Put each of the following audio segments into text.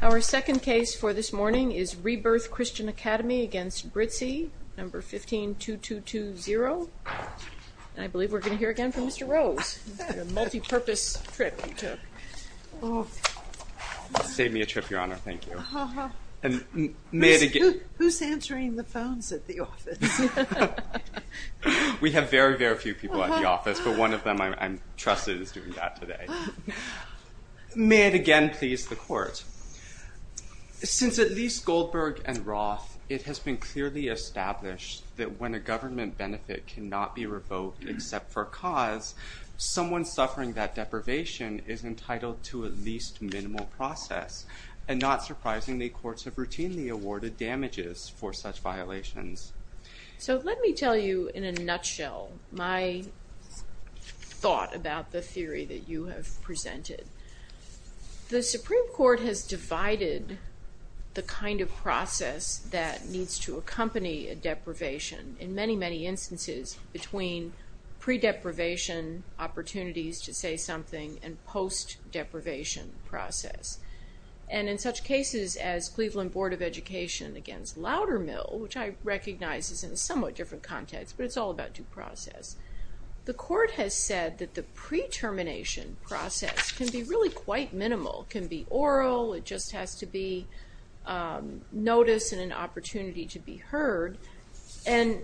Our second case for this morning is Rebirth Christian Academy v. Brizzi, No. 152220. And I believe we're going to hear again from Mr. Rose. A multi-purpose trip you took. You saved me a trip, Your Honor. Thank you. Who's answering the phones at the office? We have very, very few people at the office, but one of them, I'm trusted, is doing that today. May it again please the Court. Since at least Goldberg and Roth, it has been clearly established that when a government benefit cannot be revoked except for a cause, someone suffering that deprivation is entitled to at least minimal process. And not surprisingly, courts have routinely awarded damages for such violations. So let me tell you in a nutshell my thought about the theory that you have presented. The Supreme Court has divided the kind of process that needs to accompany a deprivation in many, many instances between pre-deprivation opportunities to say something and post-deprivation process. And in such cases as Cleveland Board of Education against Loudermill, which I recognize is in a somewhat different context, but it's all about due process. The Court has said that the pre-termination process can be really quite minimal. It can be oral, it just has to be noticed and an opportunity to be heard. And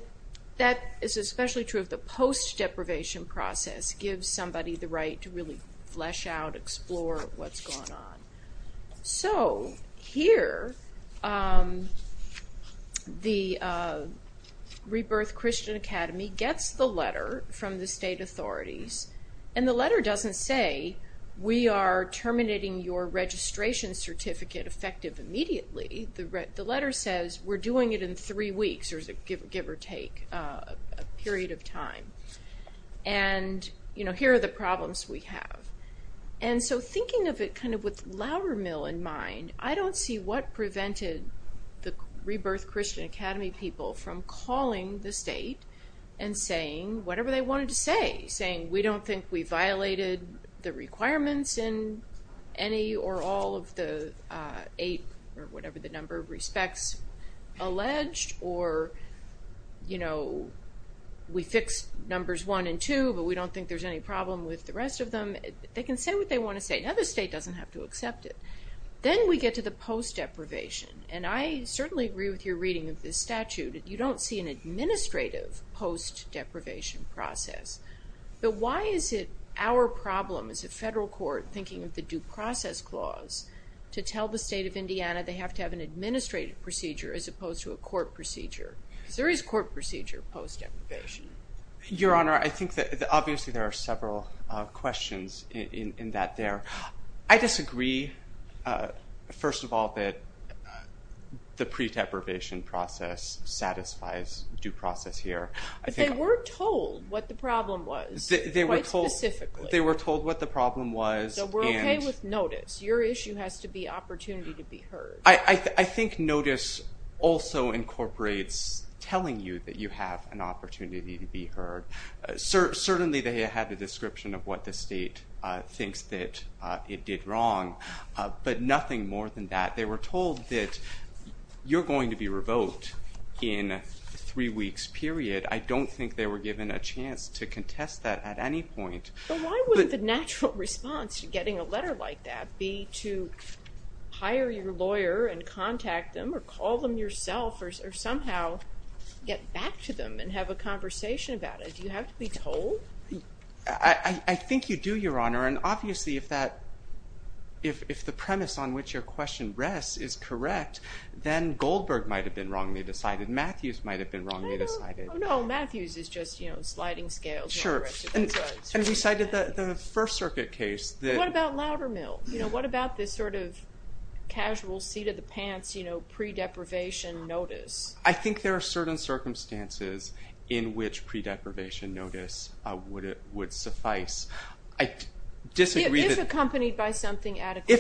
that is especially true if the post-deprivation process gives somebody the right to really flesh out, explore what's going on. So here, the Rebirth Christian Academy gets the letter from the state authorities. And the letter doesn't say, we are terminating your registration certificate effective immediately. The letter says, we're doing it in three weeks or give or take a period of time. And here are the problems we have. And so thinking of it kind of with Loudermill in mind, I don't see what prevented the Rebirth Christian Academy people from calling the state and saying whatever they wanted to say. Saying, we don't think we violated the requirements in any or all of the eight or whatever the number of respects alleged. Or, you know, we fixed numbers one and two, but we don't think there's any problem with the rest of them. They can say what they want to say. Now the state doesn't have to accept it. Then we get to the post-deprivation. And I certainly agree with your reading of this statute. You don't see an administrative post-deprivation process. But why is it our problem as a federal court, thinking of the due process clause, to tell the state of Indiana they have to have an administrative procedure as opposed to a court procedure? Because there is court procedure post-deprivation. Your Honor, I think that obviously there are several questions in that there. I disagree, first of all, that the pre-deprivation process satisfies due process here. But they were told what the problem was, quite specifically. They were told what the problem was. So we're okay with notice. Your issue has to be opportunity to be heard. I think notice also incorporates telling you that you have an opportunity to be heard. Certainly they had the description of what the state thinks that it did wrong. But nothing more than that. They were told that you're going to be revoked in three weeks, period. I don't think they were given a chance to contest that at any point. But why would the natural response to getting a letter like that be to hire your lawyer and contact them, or call them yourself, or somehow get back to them and have a conversation about it? Do you have to be told? I think you do, Your Honor. And obviously if the premise on which your question rests is correct, then Goldberg might have been wrongly decided. Matthews might have been wrongly decided. No, Matthews is just sliding scales. And we cited the First Circuit case. What about Loudermill? What about this sort of casual seat-of-the-pants pre-deprivation notice? I think there are certain circumstances in which pre-deprivation notice would suffice. If accompanied by something after the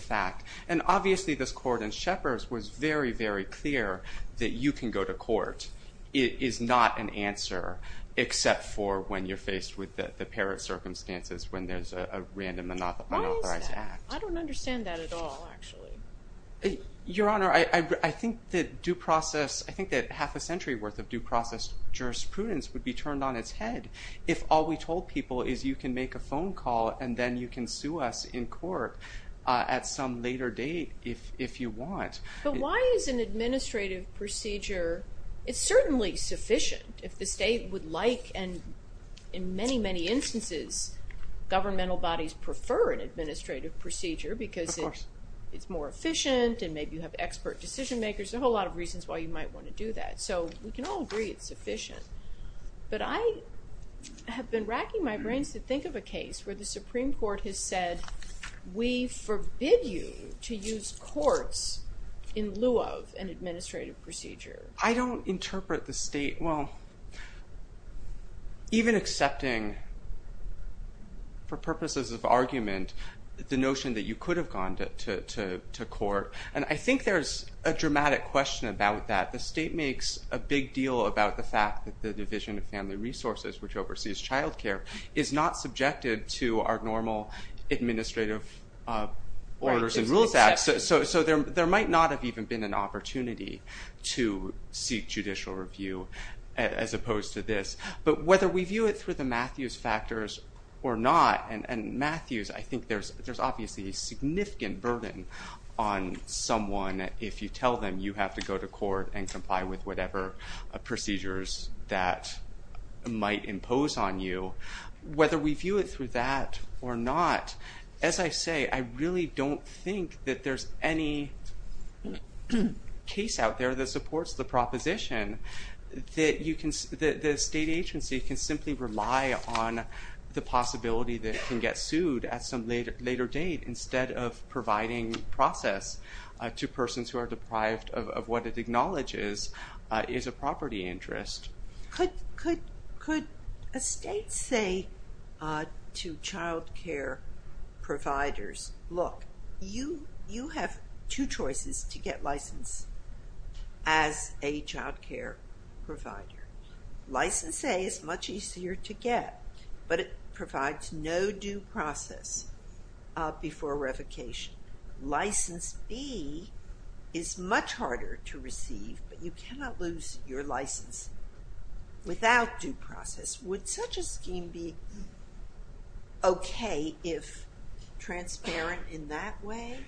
fact. And obviously this court in Shepherds was very, very clear that you can go to court. It is not an answer except for when you're faced with the parent circumstances when there's a random unauthorized act. Why is that? I don't understand that at all, actually. Your Honor, I think that half a century worth of due process jurisprudence would be turned on its head if all we told people is you can make a phone call and then you can sue us in court at some later date if you want. But why is an administrative procedure, it's certainly sufficient if the state would like, and in many, many instances governmental bodies prefer an administrative procedure because it's more efficient and maybe you have expert decision makers. There's a whole lot of reasons why you might want to do that. So we can all agree it's sufficient. But I have been racking my brains to think of a case where the Supreme Court has said we forbid you to use courts in lieu of an administrative procedure. I don't interpret the state, well, even accepting for purposes of argument the notion that you could have gone to court. And I think there's a dramatic question about that. The state makes a big deal about the fact that the Division of Family Resources, which oversees child care, is not subjected to our normal administrative orders and rules act. So there might not have even been an opportunity to seek judicial review as opposed to this. But whether we view it through the Matthews factors or not, and Matthews, I think there's obviously a significant burden on someone if you tell them you have to go to court and comply with whatever procedures that might impose on you. Whether we view it through that or not, as I say, I really don't think that there's any case out there that supports the proposition that the state agency can simply rely on the possibility that it can get sued at some later date instead of providing process to persons who are deprived of what it acknowledges is a property interest. Could a state say to child care providers, look, you have two choices to get license as a child care provider. License A is much easier to get, but it provides no due process before revocation. License B is much harder to receive, but you cannot lose your license without due process. Would such a scheme be okay if transparent in that way?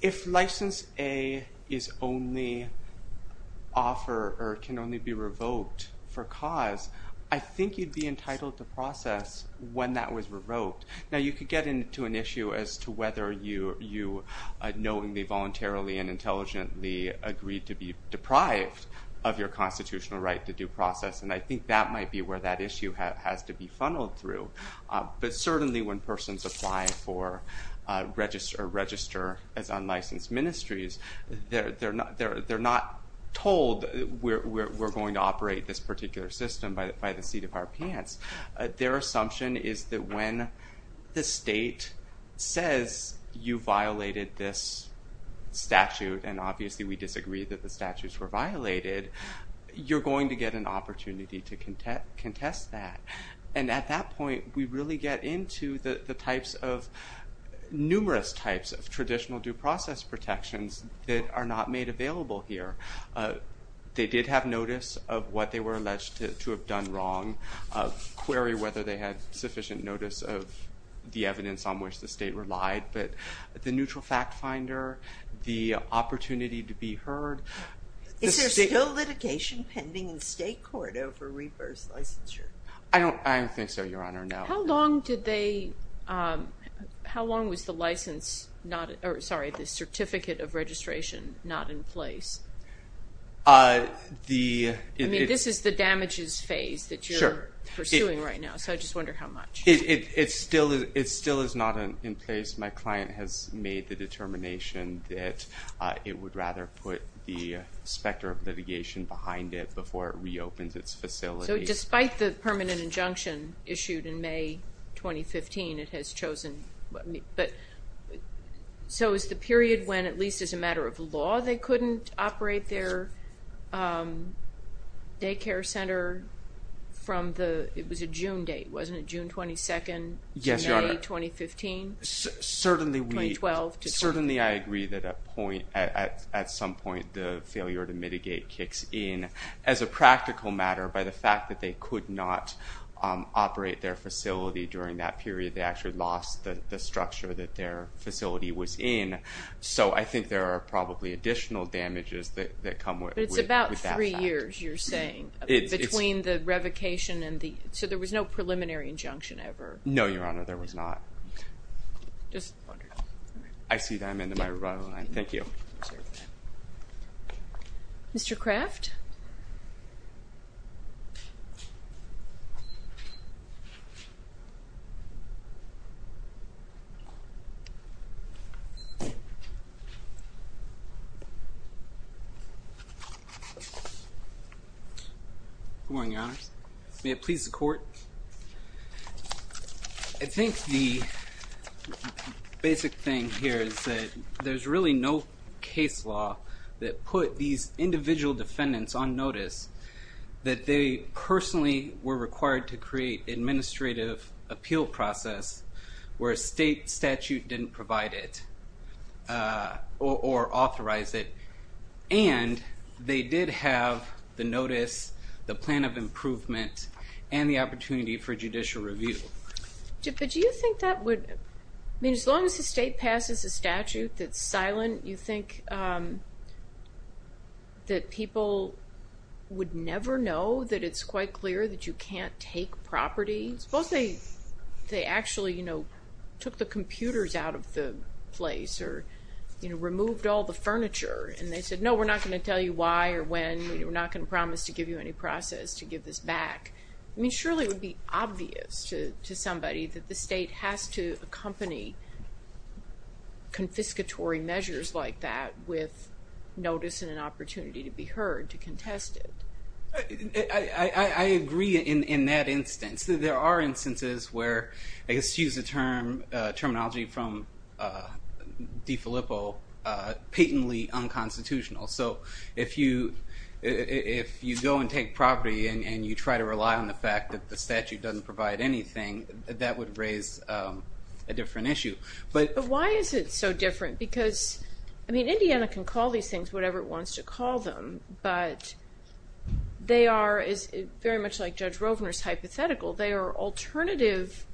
If license A can only be revoked for cause, I think you'd be entitled to process when that was revoked. Now, you could get into an issue as to whether you knowingly, voluntarily, and intelligently agreed to be deprived of your constitutional right to due process, and I think that might be where that issue has to be funneled through. But certainly when persons apply for or register as unlicensed ministries, they're not told we're going to operate this particular system by the seat of our pants. Their assumption is that when the state says you violated this statute, and obviously we disagree that the statutes were violated, you're going to get an opportunity to contest that. And at that point, we really get into the types of, numerous types of traditional due process protections that are not made available here. They did have notice of what they were alleged to have done wrong, query whether they had sufficient notice of the evidence on which the state relied, but the neutral fact finder, the opportunity to be heard. Is there still litigation pending in state court over reverse licensure? I don't think so, Your Honor, no. How long was the certificate of registration not in place? I mean, this is the damages phase that you're pursuing right now, so I just wonder how much. It still is not in place. My client has made the determination that it would rather put the specter of litigation behind it before it reopens its facility. So despite the permanent injunction issued in May 2015, it has chosen. So is the period when, at least as a matter of law, they couldn't operate their daycare center from the, it was a June date, wasn't it, June 22nd to May 2015? Certainly I agree that at some point the failure to mitigate kicks in. As a practical matter, by the fact that they could not operate their facility during that period, they actually lost the structure that their facility was in. So I think there are probably additional damages that come with that fact. But it's about three years, you're saying, between the revocation and the, so there was no preliminary injunction ever? No, Your Honor, there was not. Just wondering. I see that I'm in my revival line. Thank you. Mr. Craft? Good morning, Your Honors. May it please the Court. I think the basic thing here is that there's really no case law that put these individual defendants on notice that they personally were required to create administrative appeal process where a state statute didn't provide it or authorize it. And they did have the notice, the plan of improvement, and the opportunity for judicial review. But do you think that would, I mean, as long as the state passes a statute that's silent, you think that people would never know that it's quite clear that you can't take property? Suppose they actually took the computers out of the place or removed all the furniture and they said, no, we're not going to tell you why or when, we're not going to promise to give you any process to give this back. I mean, surely it would be obvious to somebody that the state has to accompany confiscatory measures like that with notice and an opportunity to be heard, to contest it. I agree in that instance. There are instances where, excuse the terminology from DeFilippo, patently unconstitutional. So if you go and take property and you try to rely on the fact that the statute doesn't provide anything, that would raise a different issue. But why is it so different? Because, I mean, Indiana can call these things whatever it wants to call them. But they are, very much like Judge Rovner's hypothetical, they are alternative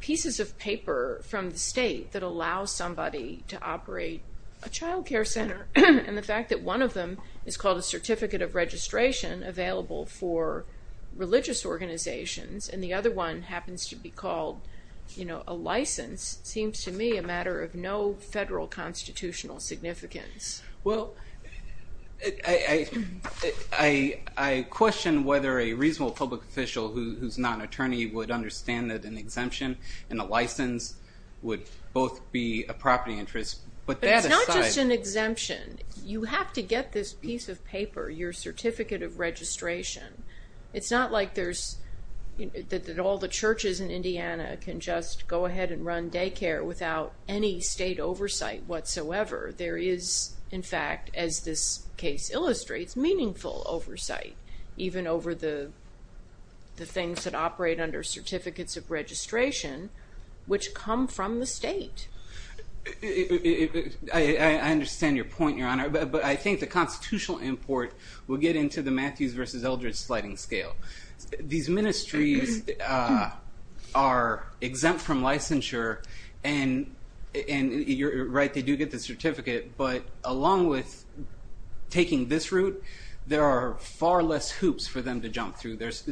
pieces of paper from the state that allow somebody to operate a child care center. And the fact that one of them is called a certificate of registration available for religious organizations and the other one happens to be called, you know, a license, seems to me a matter of no federal constitutional significance. Well, I question whether a reasonable public official who's not an attorney would understand that an exemption and a license would both be a property interest. But that aside... But it's not just an exemption. You have to get this piece of paper, your certificate of registration. It's not like there's, that all the churches in Indiana can just go ahead and run daycare without any state oversight whatsoever. There is, in fact, as this case illustrates, meaningful oversight, even over the things that operate under certificates of registration, which come from the state. I understand your point, Your Honor. But I think the constitutional import will get into the Matthews versus Eldridge sliding scale. These ministries are exempt from licensure and, you're right, they do get the certificate, but along with taking this route, there are far less hoops for them to jump through. There is...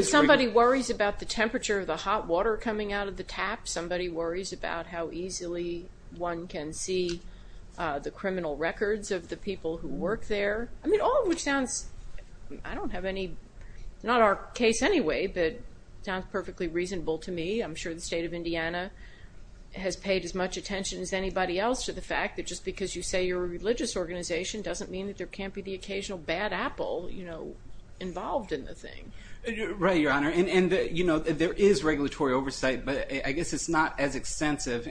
But somebody worries about the temperature of the hot water coming out of the tap. Somebody worries about how easily one can see the criminal records of the people who work there. I mean, all of which sounds, I don't have any, it's not our case anyway, but it sounds perfectly reasonable to me. I'm sure the state of Indiana has paid as much attention as anybody else to the fact that just because you say you're a religious organization doesn't mean that there can't be the occasional bad apple involved in the thing. Right, Your Honor, and there is regulatory oversight, but I guess it's not as extensive.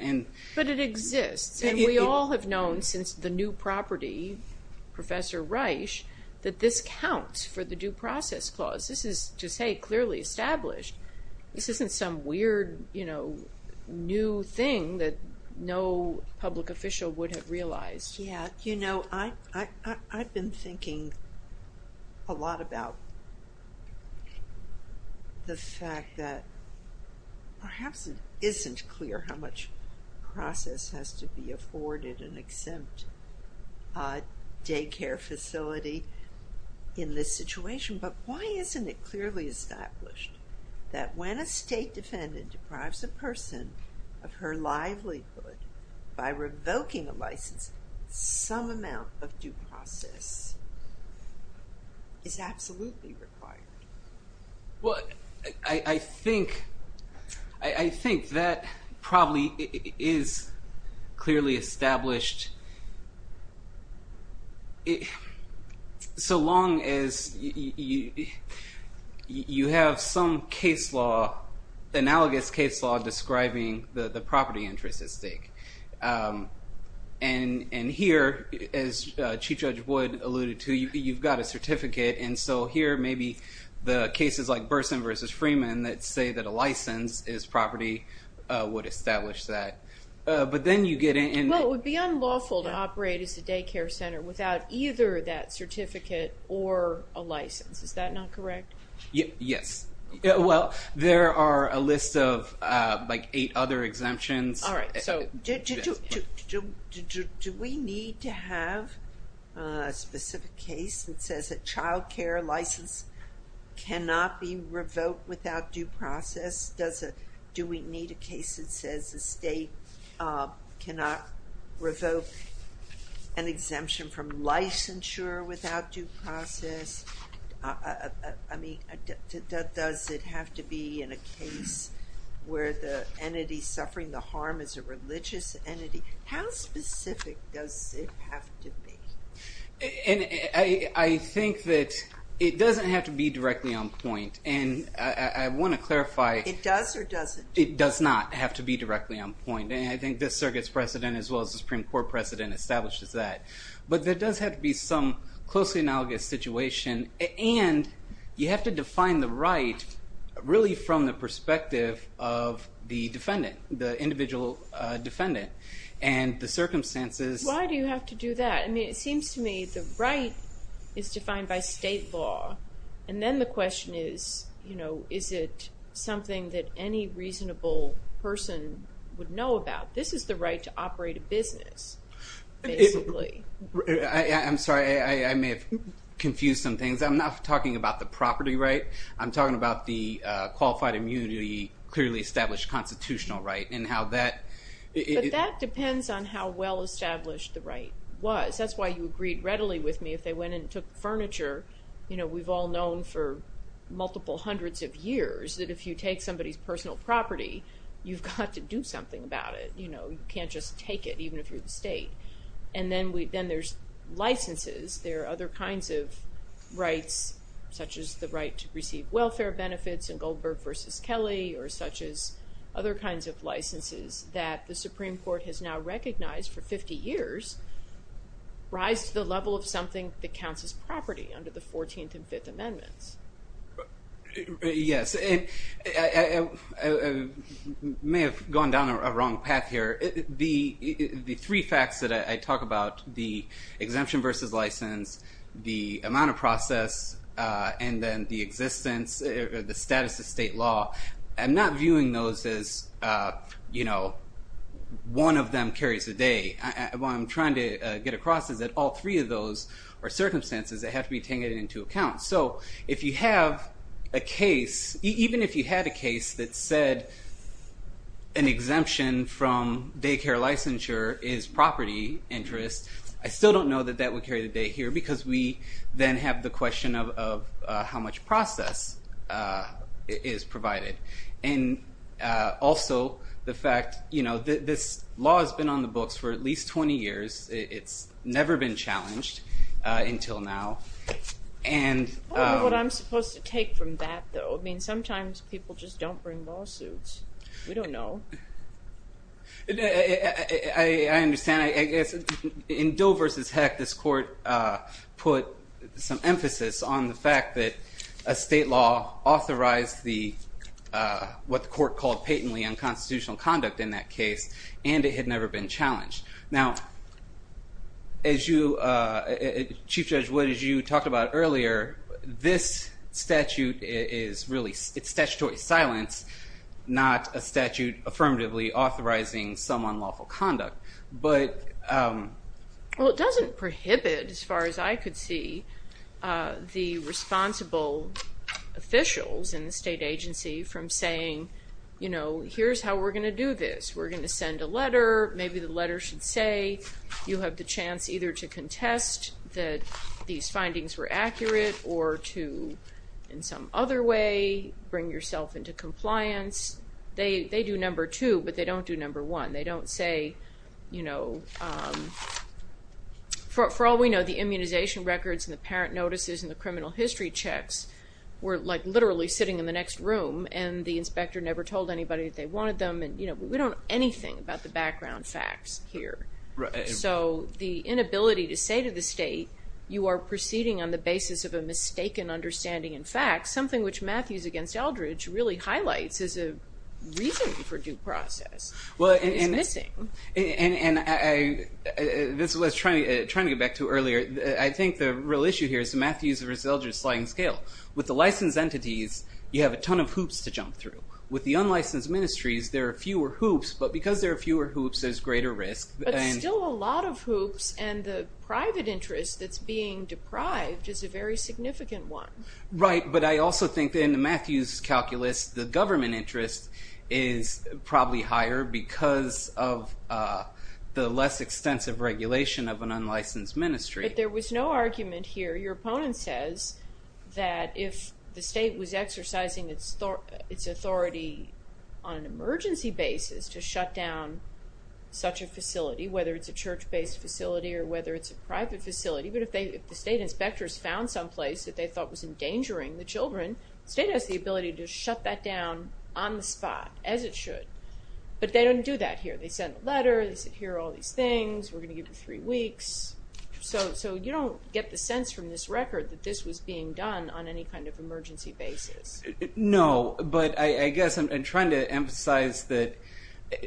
But it exists, and we all have known since the new property, Professor Reich, that this counts for the Due Process Clause. This is, to say clearly, established. This isn't some weird, you know, new thing that no public official would have realized. Yeah, you know, I've been thinking a lot about the fact that perhaps it isn't clear how much process has to be afforded an exempt daycare facility in this situation, but why isn't it clearly established that when a state defendant deprives a person of her livelihood by revoking a license, some amount of due process is absolutely required? Well, I think that probably is clearly established, so long as you have some analogous case law describing the property interest at stake. And here, as Chief Judge Wood alluded to, you've got a certificate, and so here, maybe the cases like Burson v. Freeman that say that a license is property would establish that. But then you get into... Well, it would be unlawful to operate as a daycare center without either that certificate or a license. Is that not correct? Yes. Well, there are a list of, like, eight other exemptions. All right, so do we need to have a specific case that says a childcare license cannot be revoked without due process? Do we need a case that says the state cannot revoke an exemption from licensure without due process? I mean, does it have to be in a case where the entity suffering the harm is a religious entity? How specific does it have to be? And I think that it doesn't have to be directly on point. And I want to clarify... It does or doesn't? It does not have to be directly on point. And I think this circuit's precedent, as well as the Supreme Court precedent, establishes that. But there does have to be some closely analogous situation. And you have to define the right really from the perspective of the defendant, the individual defendant. And the circumstances... Why do you have to do that? I mean, it seems to me the right is defined by state law. And then the question is, you know, is it something that any reasonable person would know about? This is the right to operate a business, basically. I'm sorry. I may have confused some things. I'm not talking about the property right. I'm talking about the qualified immunity, clearly established constitutional right, and how that... But that depends on how well-established the right was. That's why you agreed readily with me if they went and took furniture. You know, we've all known for multiple hundreds of years that if you take somebody's personal property, you've got to do something about it. You know, you can't just take it, even if you're the state. And then there's licenses. There are other kinds of rights, such as the right to receive welfare benefits in Goldberg v. Kelly, or such as other kinds of licenses that the Supreme Court has now recognized for 50 years rise to the level of something that counts as property under the 14th and 5th Amendments. Yes. I may have gone down a wrong path here. The three facts that I talk about, the exemption versus license, the amount of process, and then the existence, the status of state law, I'm not viewing those as, you know, one of them carries the day. What I'm trying to get across is that all three of those are circumstances that have to be taken into account. So if you have a case, even if you had a case that said an exemption from daycare licensure is property interest, I still don't know that that would carry the day here, because we then have the question of how much process is provided. And also the fact, you know, this law has been on the books for at least 20 years. It's never been challenged until now. I don't know what I'm supposed to take from that, though. I mean, sometimes people just don't bring lawsuits. We don't know. I understand. In Doe versus Heck, this court put some emphasis on the fact that a state law authorized what the court called patently unconstitutional conduct in that case, and it had never been challenged. Now, Chief Judge Wood, as you talked about earlier, this statute is really statutory silence, not a statute affirmatively authorizing some unlawful conduct. Well, it doesn't prohibit, as far as I could see, the responsible officials in the state agency from saying, you know, here's how we're going to do this. We're going to send a letter. Maybe the letter should say you have the chance either to contest that these findings were accurate or to, in some other way, bring yourself into compliance. They do number two, but they don't do number one. They don't say, you know, for all we know, the immunization records and the parent notices and the criminal history checks were, like, literally sitting in the next room, and the inspector never told anybody that they wanted them, and, you know, we don't know anything about the background facts here. So the inability to say to the state, you are proceeding on the basis of a mistaken understanding in fact, something which Matthews v. Eldridge really highlights as a reason for due process is missing. And this is what I was trying to get back to earlier. I think the real issue here is Matthews v. Eldridge's sliding scale. With the licensed entities, you have a ton of hoops to jump through. With the unlicensed ministries, there are fewer hoops, but because there are fewer hoops, there's greater risk. But still a lot of hoops, and the private interest that's being deprived is a very significant one. Right, but I also think that in the Matthews calculus, the government interest is probably higher because of the less extensive regulation of an unlicensed ministry. But there was no argument here. Your opponent says that if the state was exercising its authority on an emergency basis to shut down such a facility, whether it's a church-based facility or whether it's a private facility, but if the state inspectors found someplace that they thought was endangering the children, the state has the ability to shut that down on the spot as it should. But they don't do that here. They sent a letter, they said, here are all these things, we're going to give you three weeks. So you don't get the sense from this record that this was being done on any kind of emergency basis. No, but I guess I'm trying to emphasize that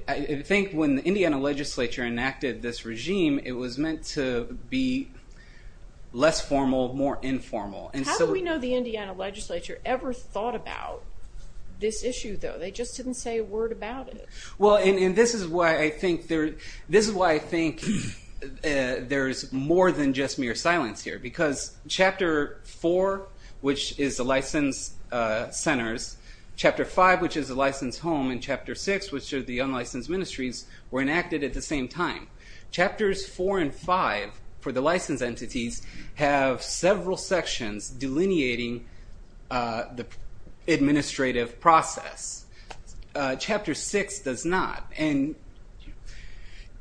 I think when the Indiana legislature enacted this regime, it was meant to be less formal, more informal. How do we know the Indiana legislature ever thought about this issue, though? They just didn't say a word about it. Well, and this is why I think there's more than just mere silence here, because Chapter 4, which is the licensed centers, Chapter 5, which is the licensed home, and Chapter 6, which are the unlicensed ministries, were enacted at the same time. Chapters 4 and 5 for the licensed entities have several sections delineating the administrative process. Chapter 6 does not. And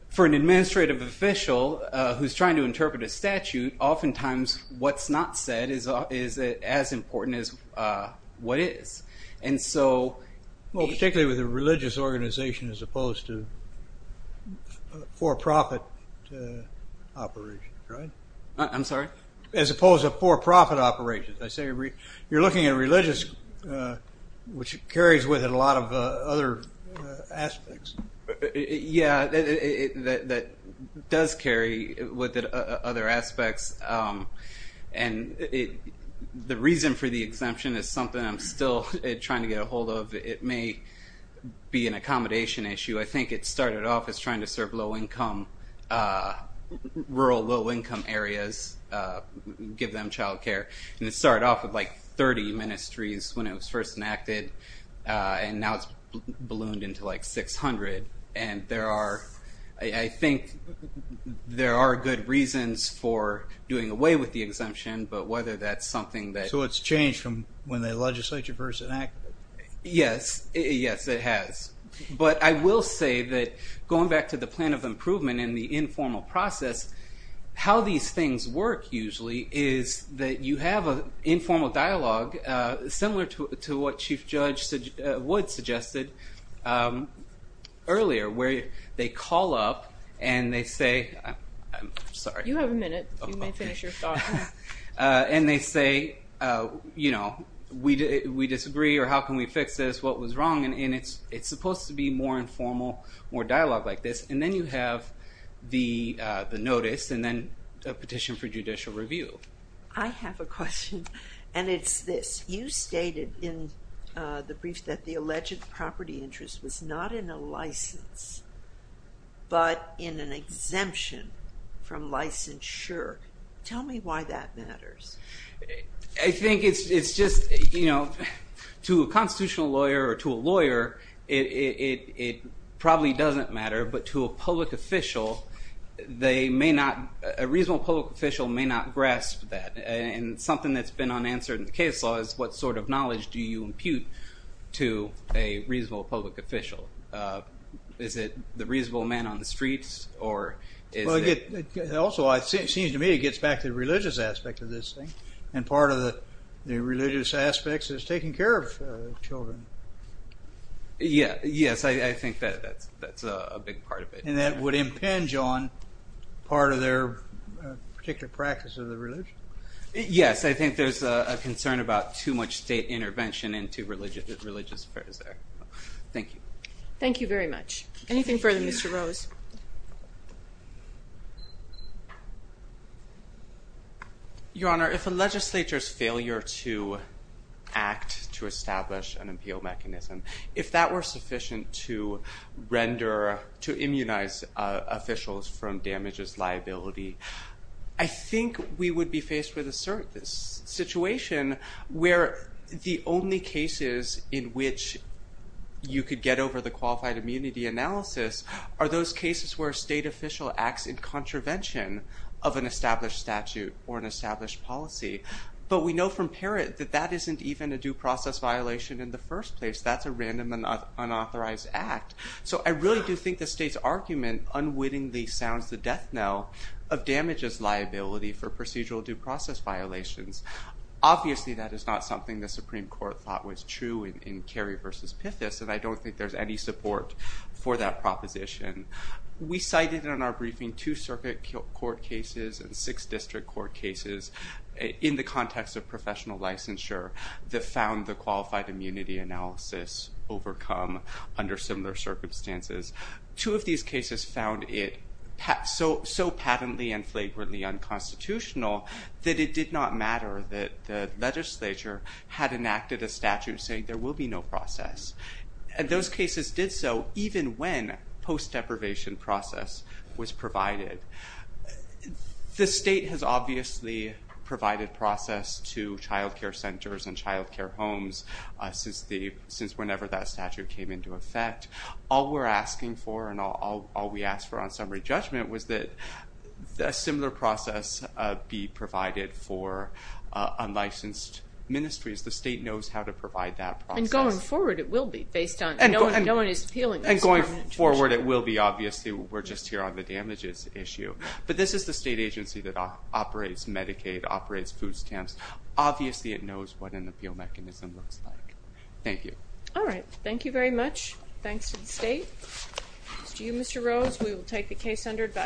for an administrative official who's trying to interpret a statute, oftentimes what's not said is as important as what is. Well, particularly with a religious organization as opposed to a for-profit operation, right? I'm sorry? As opposed to a for-profit operation. You're looking at religious, which carries with it a lot of other aspects. Yeah, that does carry with it other aspects. And the reason for the exemption is something I'm still trying to get a hold of. It may be an accommodation issue. I think it started off as trying to serve low-income, rural low-income areas, give them child care. And it started off with, like, 30 ministries when it was first enacted. And now it's ballooned into, like, 600. And I think there are good reasons for doing away with the exemption, but whether that's something that... So it's changed from when the legislature first enacted it. Yes, it has. But I will say that going back to the plan of improvement and the informal process, how these things work usually is that you have an informal dialogue, similar to what Chief Judge Wood suggested earlier, where they call up and they say, I'm sorry. You have a minute. You may finish your thoughts. And they say, you know, we disagree, or how can we fix this, what was wrong? And it's supposed to be more informal, more dialogue like this. And then you have the notice and then a petition for judicial review. I have a question, and it's this. You stated in the brief that the alleged property interest was not in a license but in an exemption from licensure. Tell me why that matters. I think it's just, you know, to a constitutional lawyer or to a lawyer, it probably doesn't matter, but to a public official, they may not, a reasonable public official may not grasp that. And something that's been unanswered in the case law is what sort of knowledge do you impute to a reasonable public official? Is it the reasonable man on the streets? Also, it seems to me it gets back to the religious aspect of this thing. And part of the religious aspects is taking care of children. Yes, I think that's a big part of it. And that would impinge on part of their particular practice of the religion? Yes, I think there's a concern about too much state intervention into religious affairs there. Thank you. Thank you very much. Anything further, Mr. Rose? Yes. Your Honor, if a legislature's failure to act to establish an appeal mechanism, if that were sufficient to render, to immunize officials from damages liability, I think we would be faced with a situation where the only cases in which you could get over the qualified immunity analysis are those cases where a state official acts in contravention of an established statute or an established policy. But we know from Parrott that that isn't even a due process violation in the first place. That's a random unauthorized act. So I really do think the state's argument unwittingly sounds the death knell of damages liability for procedural due process violations. Obviously, that is not something the Supreme Court thought was true in Carey v. Pithis, and I don't think there's any support for that proposition. We cited in our briefing two circuit court cases and six district court cases in the context of professional licensure that found the qualified immunity analysis overcome under similar circumstances. Two of these cases found it so patently and flagrantly unconstitutional that it did not matter that the legislature had enacted a statute saying there will be no process. Those cases did so even when post-deprivation process was provided. The state has obviously provided process to child care centers and child care homes since whenever that statute came into effect. All we're asking for and all we asked for on summary judgment was that a similar process be provided for unlicensed ministries. The state knows how to provide that process. And going forward, it will be based on no one is appealing. And going forward, it will be. Obviously, we're just here on the damages issue. But this is the state agency that operates Medicaid, operates food stamps. Obviously, it knows what an appeal mechanism looks like. Thank you. All right. Thank you very much. Thanks to the state. To you, Mr. Rose, we will take the case under advice.